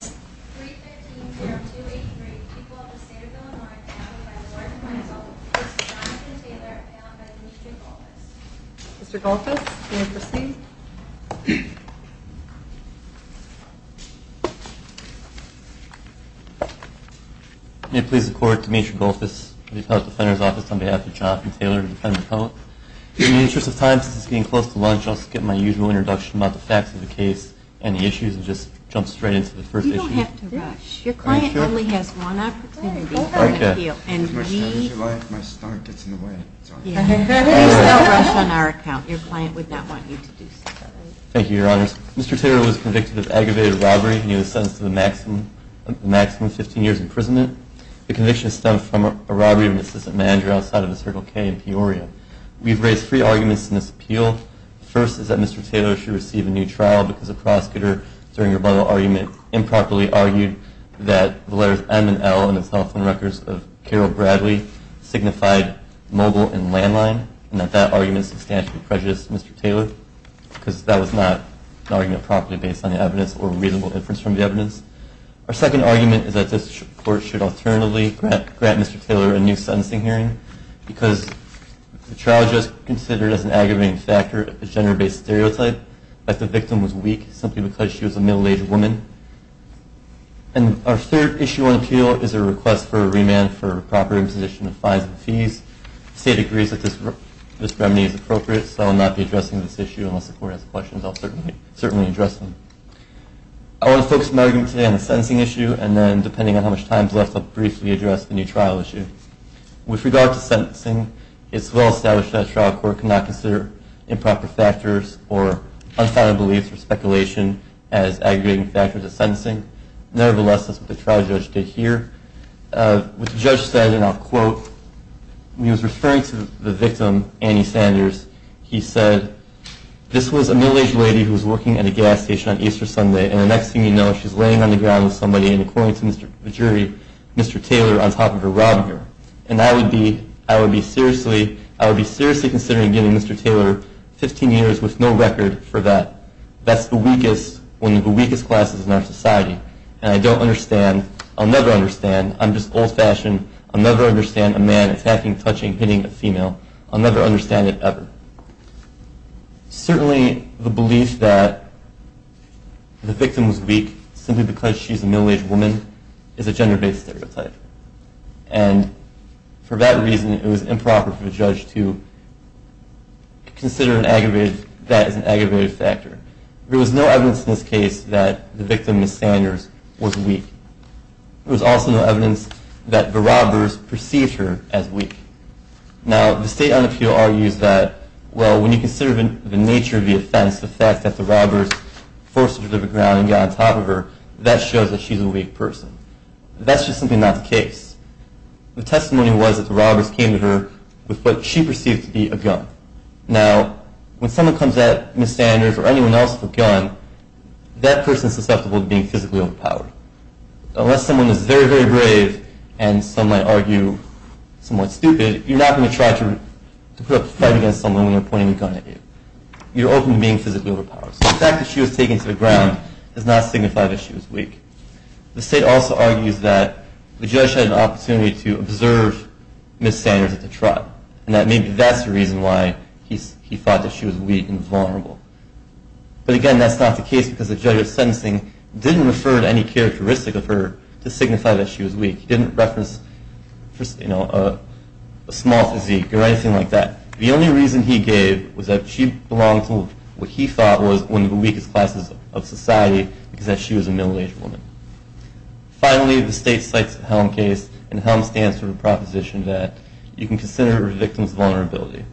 May it please the Court, Demetri Golphis of the Appellate Defenders Office, on behalf of John F. Taylor, a defendant appellate. In the interest of time, since it's getting close to lunch, I'll skip my usual introduction about the facts of the case and the issues and just jump straight into the first issue. Mr. Taylor was convicted of aggravated robbery and he was sentenced to a maximum of 15 years imprisonment. The conviction stemmed from a robbery of an assistant manager outside of the Circle K in Peoria. We've raised three arguments in this appeal. The first is that Mr. Taylor should receive a new trial because the prosecutor, during the rebuttal argument, improperly argued that the letters M and L on the cell phone records of Carol Bradley signified mobile and landline, and that that argument substantially prejudiced Mr. Taylor because that was not an argument properly based on evidence or reasonable inference from the evidence. Our second argument is that this Court should alternatively grant Mr. Taylor a new sentencing hearing because the trial just considered as an aggravating factor a gender-based stereotype that the victim was weak simply because she was a middle-aged woman. And our third issue on appeal is a request for a remand for improper imposition of fines and fees. The State agrees that this remedy is appropriate, so I'll not be addressing this issue unless the Court has questions. I'll certainly address them. I want to focus my argument today on the sentencing issue, and then, depending on how much time is left, I'll briefly address the new trial issue. With regard to sentencing, it's well established that a trial court cannot consider improper factors or unfounded beliefs or speculation as aggravating factors of sentencing. Nevertheless, that's what the trial judge did here. What the judge said, and I'll quote, when he was referring to the victim, Annie Sanders, he said, this was a middle-aged lady who was working at a gas station on Easter Sunday, and the next thing you know, she's laying on the ground with somebody, and according to the jury, Mr. Taylor, on top of her, robbed her. And I would be seriously considering giving Mr. Taylor 15 years with no record for that. That's one of the weakest classes in our society, and I don't understand. I'll never understand. I'm just old-fashioned. I'll never understand a man attacking, touching, hitting a female. I'll never understand it ever. Certainly, the belief that the victim was weak simply because she's a middle-aged woman is a gender-based stereotype, and for that reason, it was improper for the judge to consider that as an aggravating factor. There was no evidence in this case that the victim, Ms. Sanders, was weak. There was also no evidence that the robbers perceived her as weak. Now, the state on the field argues that, well, when you consider the nature of the offense, the fact that the robbers forced her to the ground and got on top of her, that shows that she's a weak person. That's just simply not the case. The testimony was that the robbers came to her with what she perceived to be a gun. Now, when someone comes at Ms. Sanders or anyone else with a gun, that person is susceptible to being physically overpowered. Unless someone is very, very brave and, some might argue, somewhat stupid, you're not going to try to put up a fight against someone when they're pointing a gun at you. You're open to being physically overpowered. So the fact that she was taken to the ground does not signify that she was weak. The state also argues that the judge had an opportunity to observe Ms. Sanders at the trial, and that maybe that's the reason why he thought that she was weak and vulnerable. But again, that's not the case because the judge at sentencing didn't refer to any characteristic of her to signify that she was weak. He didn't reference a small physique or anything like that. The only reason he gave was that she belonged to what he thought was one of the weakest classes of society, because she was a middle-aged woman. Finally, the state cites the HELM case, and HELM stands for the proposition that you can consider a victim's vulnerability.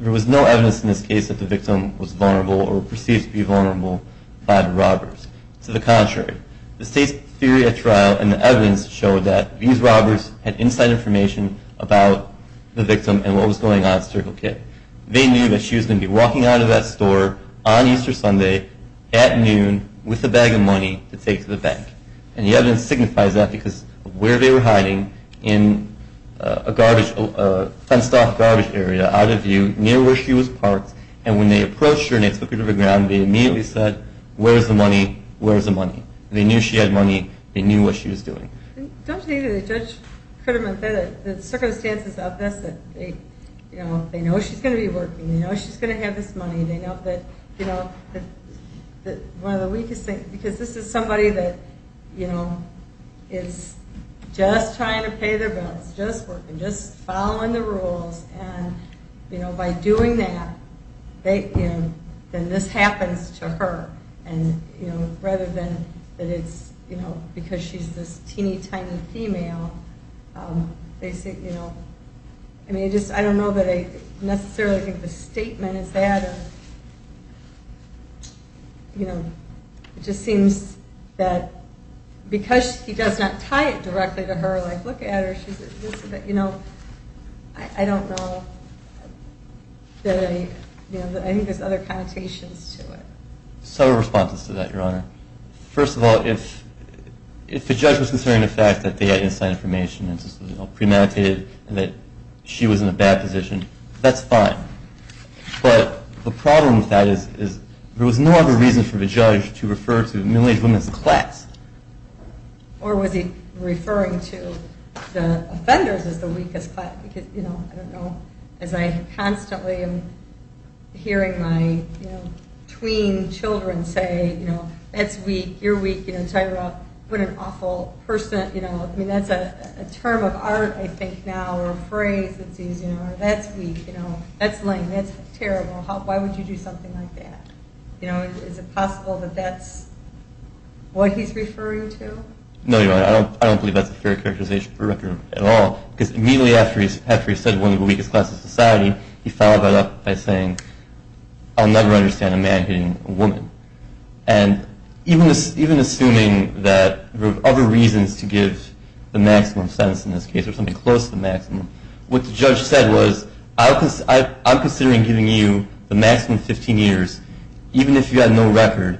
There was no evidence in this case that the victim was vulnerable or perceived to be vulnerable by the robbers. To the contrary, the state's theory at trial and the evidence showed that these robbers had inside information about the victim and what was going on at Circle K. They knew that she was going to be walking out of that store on Easter Sunday at noon with a bag of money to take to the bank. And the evidence signifies that because where they were hiding in a fenced-off garbage area out of view near where she was parked, and when they approached her and they took her to the ground, they immediately said, where's the money, where's the money? They knew she had money. They knew what she was doing. Don't you think that the judge could have meant that the circumstances of this, that they know she's going to be working, they know she's going to have this money, they know that, you know, one of the weakest things, because this is somebody that, you know, is just trying to pay their bills, just working, just following the rules, and, you know, by doing that, they, you know, then this happens to her. And, you know, rather than that it's, you know, because she's this teeny tiny female, they say, you know, I mean, I just don't know that I necessarily think the statement is that of, you know, it just seems that because he does not tie it directly to her, like, look at her, you know, I don't know that I, you know, I think there's other connotations to it. First of all, if the judge was concerned with the fact that they had inside information and premeditated and that she was in a bad position, that's fine. But the problem with that is there was no other reason for the judge to refer to middle-aged women as the class. Or was he referring to the offenders as the weakest class, because, you know, I don't know, as I constantly am hearing my, you know, tween children say, you know, that's weak, you're weak, you know, Tyra, what an awful person, you know, I mean, that's a term of art, I think, now, or a phrase, you know, that's weak, you know, that's lame, that's terrible, why would you do something like that? You know, is it possible that that's what he's referring to? No, you're right, I don't believe that's a fair characterization for a record at all, because immediately after he said one of the weakest classes in society, he followed that up by saying, I'll never understand a man hitting a woman. And even assuming that there were other reasons to give the maximum sentence in this case, or something close to the maximum, what the judge said was, I'm considering giving you the maximum 15 years, even if you have no record,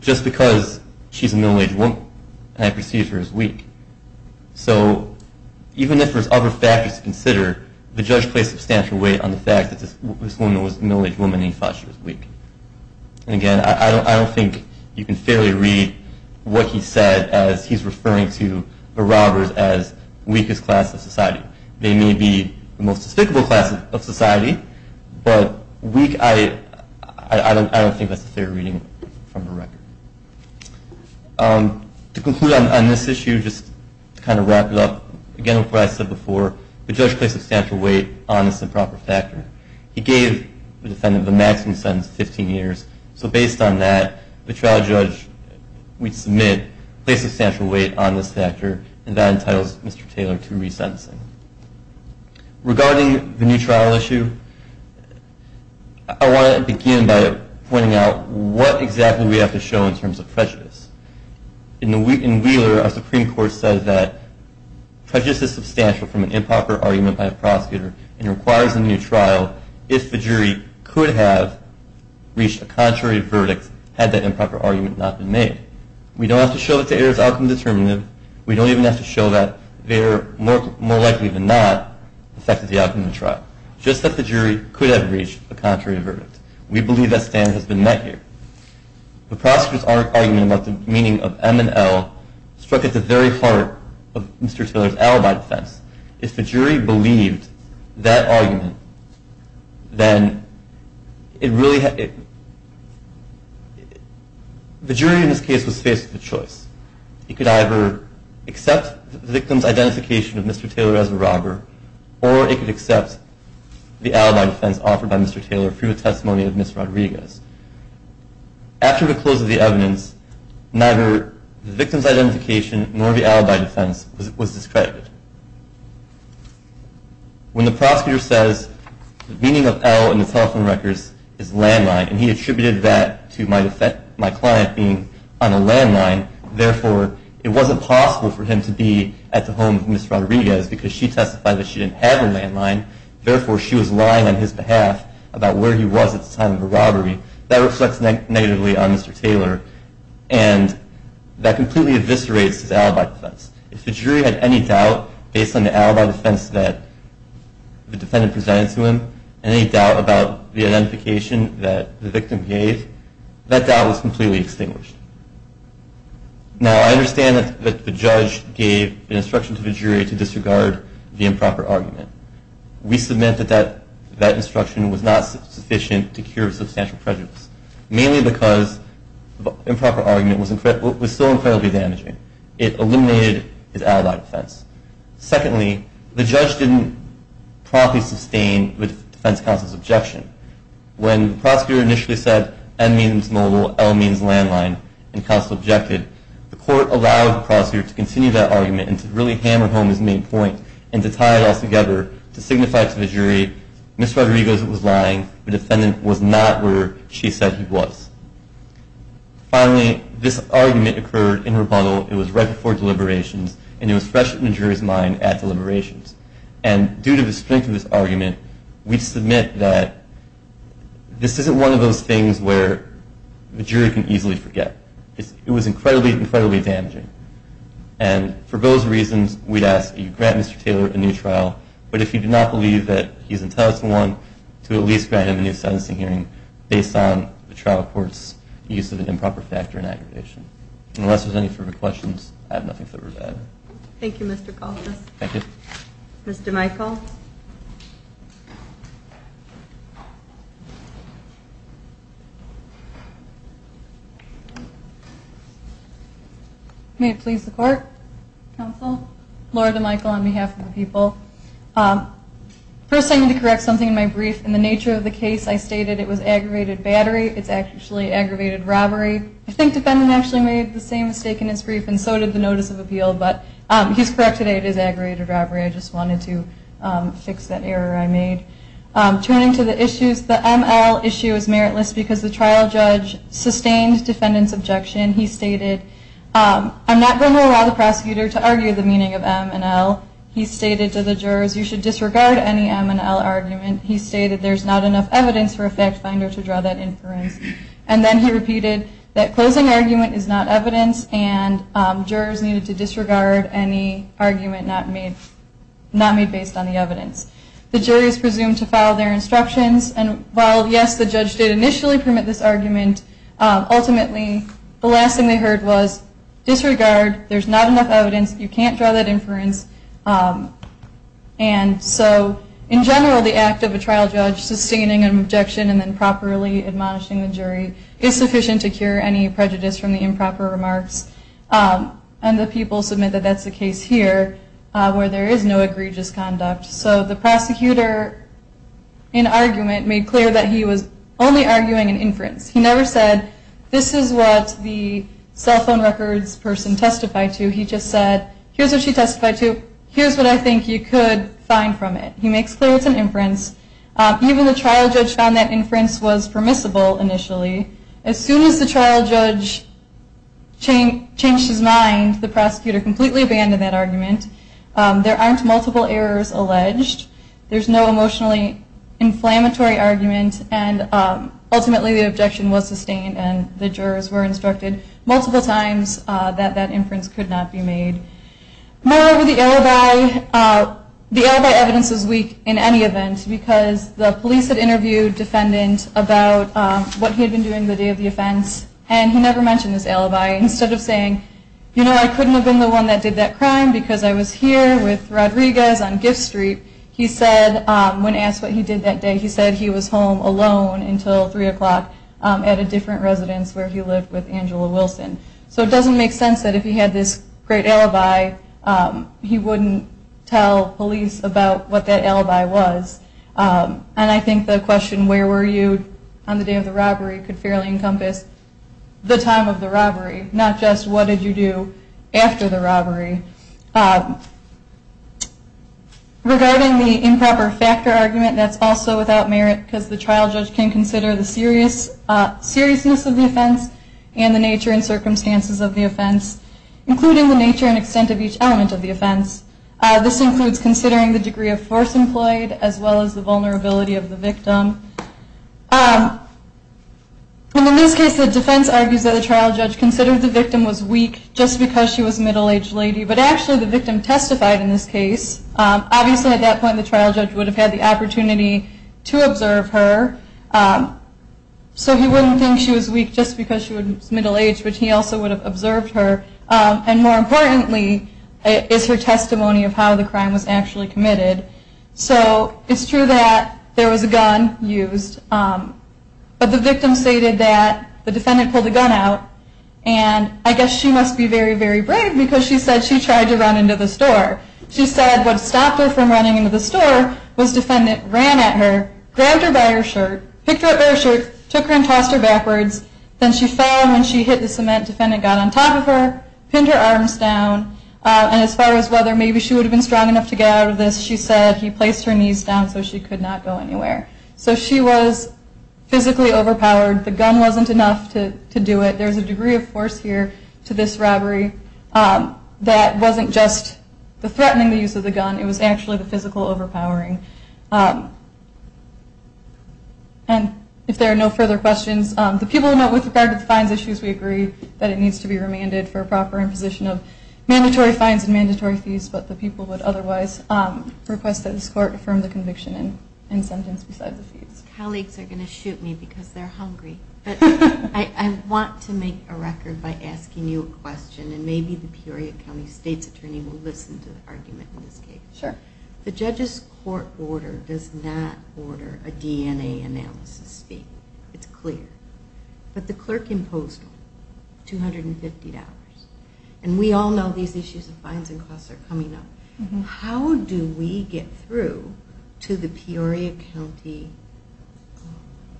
just because she's a middle-aged woman and I perceive her as weak. So even if there's other factors to consider, the judge placed substantial weight on the fact that this woman was a middle-aged woman and he thought she was weak. And again, I don't think you can fairly read what he said as he's referring to the robbers as weakest class of society. They may be the most despicable class of society, but weak, I don't think that's a fair reading from the record. To conclude on this issue, just to kind of wrap it up, again, what I said before, the judge placed substantial weight on this improper factor. He gave the defendant the maximum sentence of 15 years, so based on that, the trial judge, we submit, placed substantial weight on this factor, and that entitles Mr. Taylor to resentencing. Regarding the new trial issue, I want to begin by pointing out what exactly we have to show in terms of prejudice. In Wheeler, our Supreme Court said that prejudice is substantial from an improper argument by a prosecutor and requires a new trial if the jury could have reached a contrary verdict had that improper argument not been made. We don't have to show that the error is outcome determinative. We don't even have to show that the error more likely than not affected the outcome of the trial, just that the jury could have reached a contrary verdict. We believe that standard has been met here. The prosecutor's argument about the meaning of M and L struck at the very heart of Mr. Taylor's alibi defense. If the jury believed that argument, then it really had... The jury in this case was faced with a choice. It could either accept the victim's identification of Mr. Taylor as a robber or it could accept the alibi defense offered by Mr. Taylor through a testimony of Ms. Rodriguez. After the close of the evidence, neither the victim's identification nor the alibi defense was discredited. When the prosecutor says the meaning of L in the telephone records is landline, and he attributed that to my client being on a landline, therefore it wasn't possible for him to be at the home of Ms. Rodriguez because she testified that she didn't have a landline, therefore she was lying on his behalf about where he was at the time of the robbery. That reflects negatively on Mr. Taylor, and that completely eviscerates his alibi defense. If the jury had any doubt based on the alibi defense that the defendant presented to him, any doubt about the identification that the victim gave, that doubt was completely extinguished. Now, I understand that the judge gave an instruction to the jury to disregard the improper argument. We submit that that instruction was not sufficient to cure substantial prejudice, mainly because the improper argument was still incredibly damaging. It eliminated his alibi defense. Secondly, the judge didn't promptly sustain the defense counsel's objection. When the prosecutor initially said M means mobile, L means landline, and counsel objected, the court allowed the prosecutor to continue that argument and to really hammer home his main point and to tie it all together to signify to the jury Ms. Rodriguez was lying, the defendant was not where she said he was. Finally, this argument occurred in rebuttal. It was right before deliberations, and it was fresh in the jury's mind at deliberations. And due to the strength of this argument, we submit that this isn't one of those things where the jury can easily forget. It was incredibly, incredibly damaging. And for those reasons, we'd ask that you grant Mr. Taylor a new trial. But if you do not believe that he's intelligent enough to at least grant him a new sentencing hearing based on the trial court's use of an improper factor in aggravation. Unless there's any further questions, I have nothing further to add. Thank you, Mr. Colfus. Thank you. Mr. Michael. May it please the court, counsel? Laura DeMichael on behalf of the people. First, I need to correct something in my brief. In the nature of the case, I stated it was aggravated battery. It's actually aggravated robbery. I think defendant actually made the same mistake in his brief, and so did the notice of appeal. But he's correct today. It is aggravated robbery. I just wanted to fix that error I made. Turning to the issues, the ML issue is meritless because the trial judge sustained defendant's objection. He stated, I'm not going to allow the prosecutor to argue the meaning of M and L. He stated to the jurors, you should disregard any M and L argument. He stated, there's not enough evidence for a fact finder to draw that inference. And then he repeated that closing argument is not evidence, and jurors needed to disregard any argument not made based on the evidence. The jury is presumed to follow their instructions. And while, yes, the judge did initially permit this argument, ultimately the last thing they heard was disregard, there's not enough evidence, you can't draw that inference. And so, in general, the act of a trial judge sustaining an objection and then properly admonishing the jury is sufficient to cure any prejudice from the improper remarks. And the people submit that that's the case here, where there is no egregious conduct. So the prosecutor, in argument, made clear that he was only arguing an inference. He never said, this is what the cell phone records person testified to. He just said, here's what she testified to. Here's what I think you could find from it. He makes clear it's an inference. Even the trial judge found that inference was permissible initially. As soon as the trial judge changed his mind, the prosecutor completely abandoned that argument. There aren't multiple errors alleged. There's no emotionally inflammatory argument, and ultimately the objection was sustained and the jurors were instructed multiple times that that inference could not be made. Moreover, the alibi, the alibi evidence is weak in any event, because the police had interviewed a defendant about what he had been doing the day of the offense, and he never mentioned his alibi. Instead of saying, you know, I couldn't have been the one that did that crime, because I was here with Rodriguez on Gift Street, he said, when asked what he did that day, he said he was home alone until 3 o'clock at a different residence where he lived with Angela Wilson. So it doesn't make sense that if he had this great alibi, he wouldn't tell police about what that alibi was. And I think the question, where were you on the day of the robbery, could fairly encompass the time of the robbery, not just what did you do after the robbery. Regarding the improper factor argument, that's also without merit, because the trial judge can consider the seriousness of the offense and the nature and circumstances of the offense, including the nature and extent of each element of the offense. This includes considering the degree of force employed as well as the vulnerability of the victim. And in this case, the defense argues that the trial judge considered the victim was weak just because she was a middle-aged lady, but actually the victim testified in this case. Obviously at that point the trial judge would have had the opportunity to observe her, so he wouldn't think she was weak just because she was middle-aged, but he also would have observed her. And more importantly is her testimony of how the crime was actually committed. So it's true that there was a gun used, but the victim stated that the defendant pulled the gun out, and I guess she must be very, very brave because she said she tried to run into the store. She said what stopped her from running into the store was the defendant ran at her, grabbed her by her shirt, picked her up by her shirt, took her and tossed her backwards. Then she fell, and when she hit the cement, the defendant got on top of her, pinned her arms down, and as far as whether maybe she would have been strong enough to get out of this, she said he placed her knees down so she could not go anywhere. So she was physically overpowered. The gun wasn't enough to do it. There's a degree of force here to this robbery that wasn't just the threatening use of the gun. It was actually the physical overpowering. And if there are no further questions, the people who know with regard to the fines issues, we agree that it needs to be remanded for proper imposition of mandatory fines and mandatory fees, but the people would otherwise request that this court affirm the conviction and sentence beside the fees. My colleagues are going to shoot me because they're hungry, but I want to make a record by asking you a question, and maybe the Peoria County state's attorney will listen to the argument in this case. Sure. The judge's court order does not order a DNA analysis fee. It's clear. But the clerk imposed $250. And we all know these issues of fines and costs are coming up. How do we get through to the Peoria County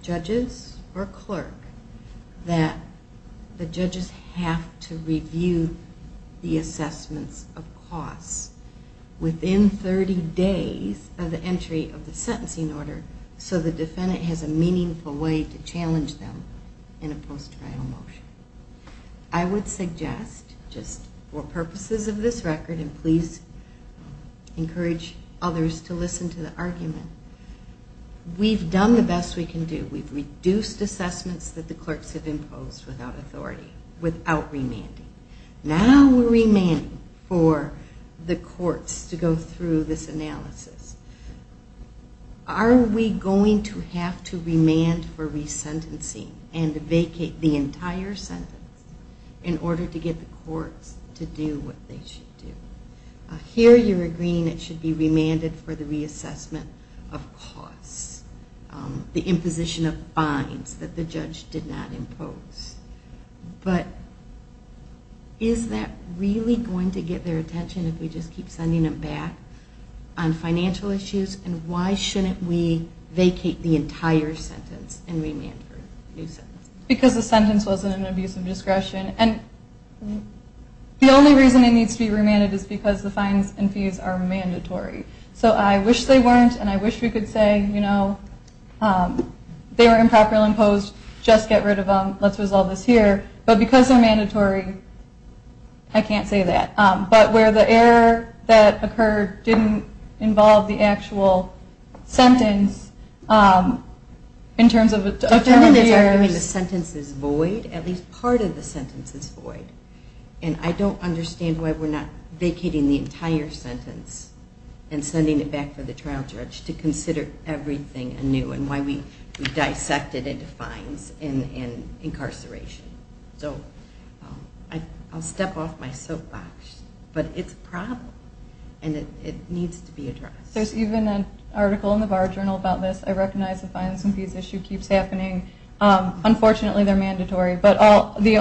judges or clerk that the judges have to review the assessments of costs within 30 days of the entry of the sentencing order so the defendant has a meaningful way to challenge them in a post-trial motion? I would suggest just for purposes of this record, and please encourage others to listen to the argument, we've done the best we can do. We've reduced assessments that the clerks have imposed without authority, without remanding. Now we're remanding for the courts to go through this analysis. Are we going to have to remand for resentencing and vacate the entire sentence in order to get the courts to do what they should do? Here you're agreeing it should be remanded for the reassessment of costs, the imposition of fines that the judge did not impose. But is that really going to get their attention if we just keep sending them back on financial issues? And why shouldn't we vacate the entire sentence and remand for a new sentence? Because the sentence wasn't an abuse of discretion. And the only reason it needs to be remanded is because the fines and fees are mandatory. So I wish they weren't, and I wish we could say, you know, they were improperly imposed, just get rid of them, let's resolve this here. But because they're mandatory, I can't say that. But where the error that occurred didn't involve the actual sentence in terms of the errors. The sentence is void, at least part of the sentence is void. And I don't understand why we're not vacating the entire sentence and sending it back for the trial judge to consider everything anew and why we dissect it into fines and incarceration. So I'll step off my soapbox. But it's a problem, and it needs to be addressed. There's even an article in the Bar Journal about this. I recognize the fines and fees issue keeps happening. Unfortunately, they're mandatory. But the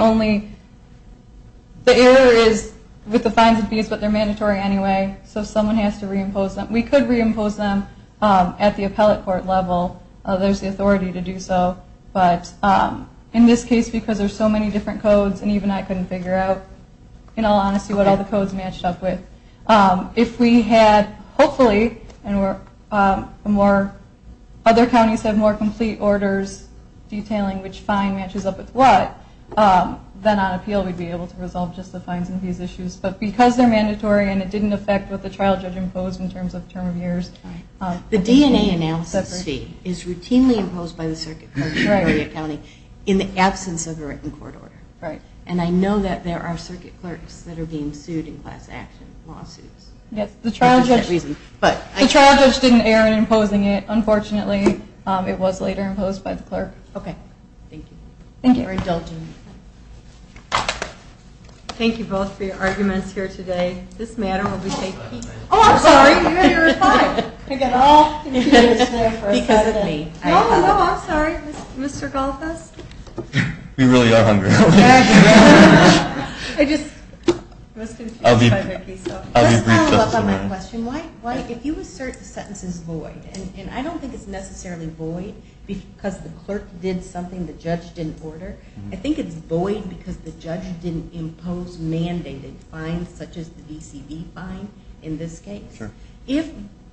error is with the fines and fees, but they're mandatory anyway. So someone has to reimpose them. We could reimpose them at the appellate court level. There's the authority to do so. But in this case, because there's so many different codes, and even I couldn't figure out, in all honesty, what all the codes matched up with. If we had, hopefully, and other counties have more complete orders detailing which fine matches up with what, then on appeal, we'd be able to resolve just the fines and fees issues. But because they're mandatory, and it didn't affect what the trial judge imposed in terms of term of years. The DNA analysis fee is routinely imposed by the circuit clerks in Marietta County in the absence of a written court order. And I know that there are circuit clerks that are being sued in class action lawsuits. Yes, the trial judge didn't err in imposing it, unfortunately. It was later imposed by the clerk. Okay. Thank you. Thank you for indulging me. Thank you both for your arguments here today. This matter will be taken. Oh, I'm sorry. You're fine. I got all confused there for a second. Because of me. No, no, no. I'm sorry. Mr. Goldfuss? We really are hungry. I just was confused by Vicki's stuff. Let's follow up on that question. Mike, if you assert the sentence is void, and I don't think it's necessarily void because the clerk did something the judge didn't order. I think it's void because the judge didn't impose mandated fines such as the VCD fine in this case. Sure.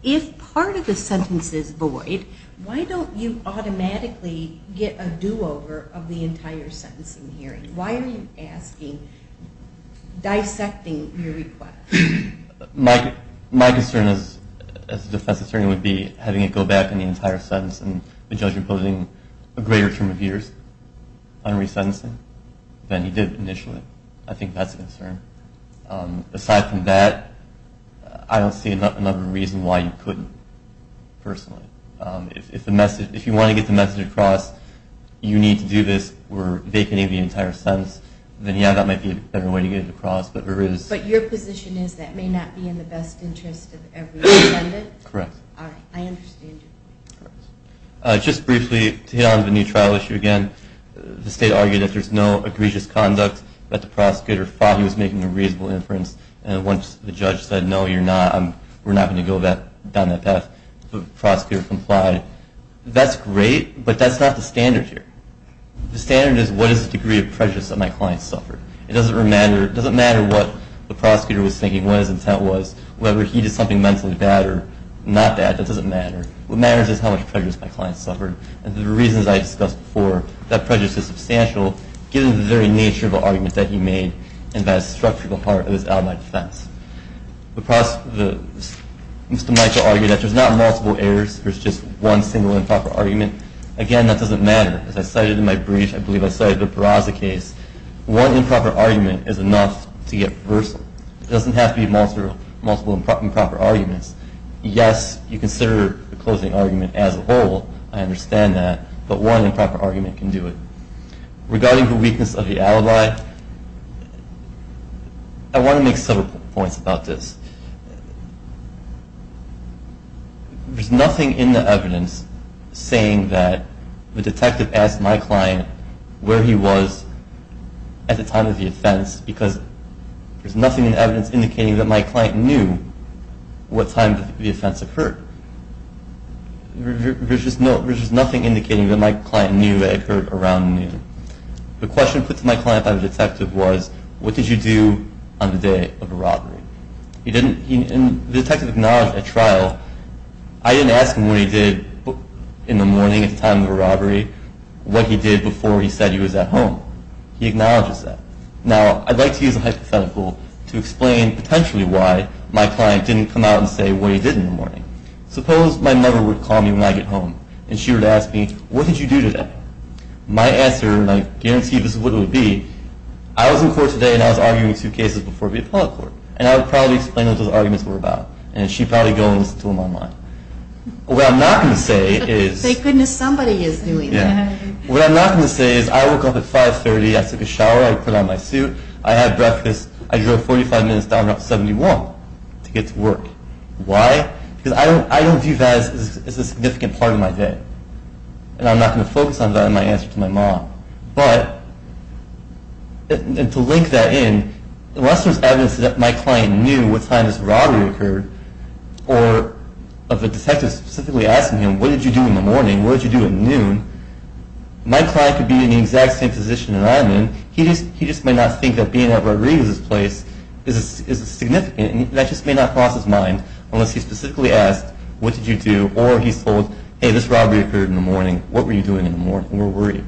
If part of the sentence is void, why don't you automatically get a do-over of the entire sentencing hearing? Why are you asking, dissecting your request? My concern as a defense attorney would be having it go back in the entire sentence and the judge imposing a greater term of years on resentencing than he did initially. I think that's a concern. Aside from that, I don't see another reason why you couldn't, personally. If you want to get the message across, you need to do this. We're vacating the entire sentence. Then, yeah, that might be a better way to get it across. But your position is that may not be in the best interest of every defendant? Correct. All right. I understand your point. Just briefly, to hit on the new trial issue again, the state argued that there's no egregious conduct, that the prosecutor thought he was making a reasonable inference, and once the judge said, no, we're not going to go down that path, the prosecutor complied. That's great, but that's not the standard here. The standard is, what is the degree of prejudice that my client suffered? It doesn't matter what the prosecutor was thinking, what his intent was, whether he did something mentally bad or not bad. That doesn't matter. What matters is how much prejudice my client suffered. And the reasons I discussed before, that prejudice is substantial, given the very nature of the argument that he made, and that has struck through the heart of his alibi defense. Mr. Michael argued that there's not multiple errors, there's just one single improper argument. Again, that doesn't matter. As I cited in my brief, I believe I cited the Barraza case, one improper argument is enough to get reversal. It doesn't have to be multiple improper arguments. Yes, you consider the closing argument as a whole, I understand that, but one improper argument can do it. Regarding the weakness of the alibi, I want to make several points about this. There's nothing in the evidence saying that the detective asked my client where he was at the time of the offense, because there's nothing in the evidence indicating that my client knew what time the offense occurred. There's just nothing indicating that my client knew it occurred around noon. The question put to my client by the detective was, what did you do on the day of the robbery? The detective acknowledged at trial, I didn't ask him what he did in the morning at the time of the robbery, what he did before he said he was at home. He acknowledges that. Now, I'd like to use a hypothetical to explain potentially why my client didn't come out and say what he did in the morning. Suppose my mother would call me when I get home, and she were to ask me, what did you do today? My answer, and I guarantee this is what it would be, I was in court today and I was arguing two cases before the appellate court, and I would probably explain what those arguments were about, and she'd probably go and listen to them online. What I'm not going to say is... Thank goodness somebody is doing that. What I'm not going to say is, I woke up at 5.30, I took a shower, I put on my suit, I had breakfast, I drove 45 minutes down Route 71 to get to work. Why? Because I don't view that as a significant part of my day, and I'm not going to focus on that in my answer to my mom. But, to link that in, unless there's evidence that my client knew what time this robbery occurred, or of the detective specifically asking him, what did you do in the morning, what did you do at noon, my client could be in the exact same position that I'm in, he just may not think that being at Rodriguez's place is significant, and that just may not cross his mind, unless he specifically asked, what did you do, or he's told, hey, this robbery occurred in the morning, what were you doing in the morning, where were you?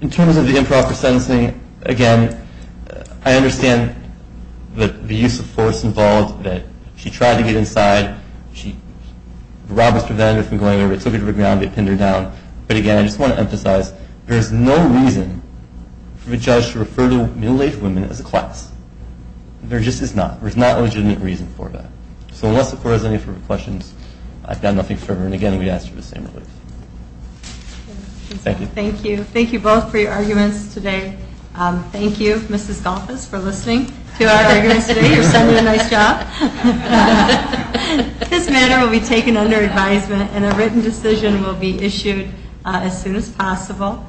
In terms of the improper sentencing, again, I understand the use of force involved, that she tried to get inside, the robbers prevented her from going over, they took her to the ground, they pinned her down, but, again, I just want to emphasize, there is no reason for a judge to refer to middle-aged women as a class. There just is not. There's not a legitimate reason for that. So, unless the court has any further questions, I've got nothing further, and, again, we ask for the same relief. Thank you. Thank you. Thank you both for your arguments today. Thank you, Mrs. Golfos, for listening to our arguments today. You're sending a nice job. This matter will be taken under advisement, and a written decision will be issued as soon as possible.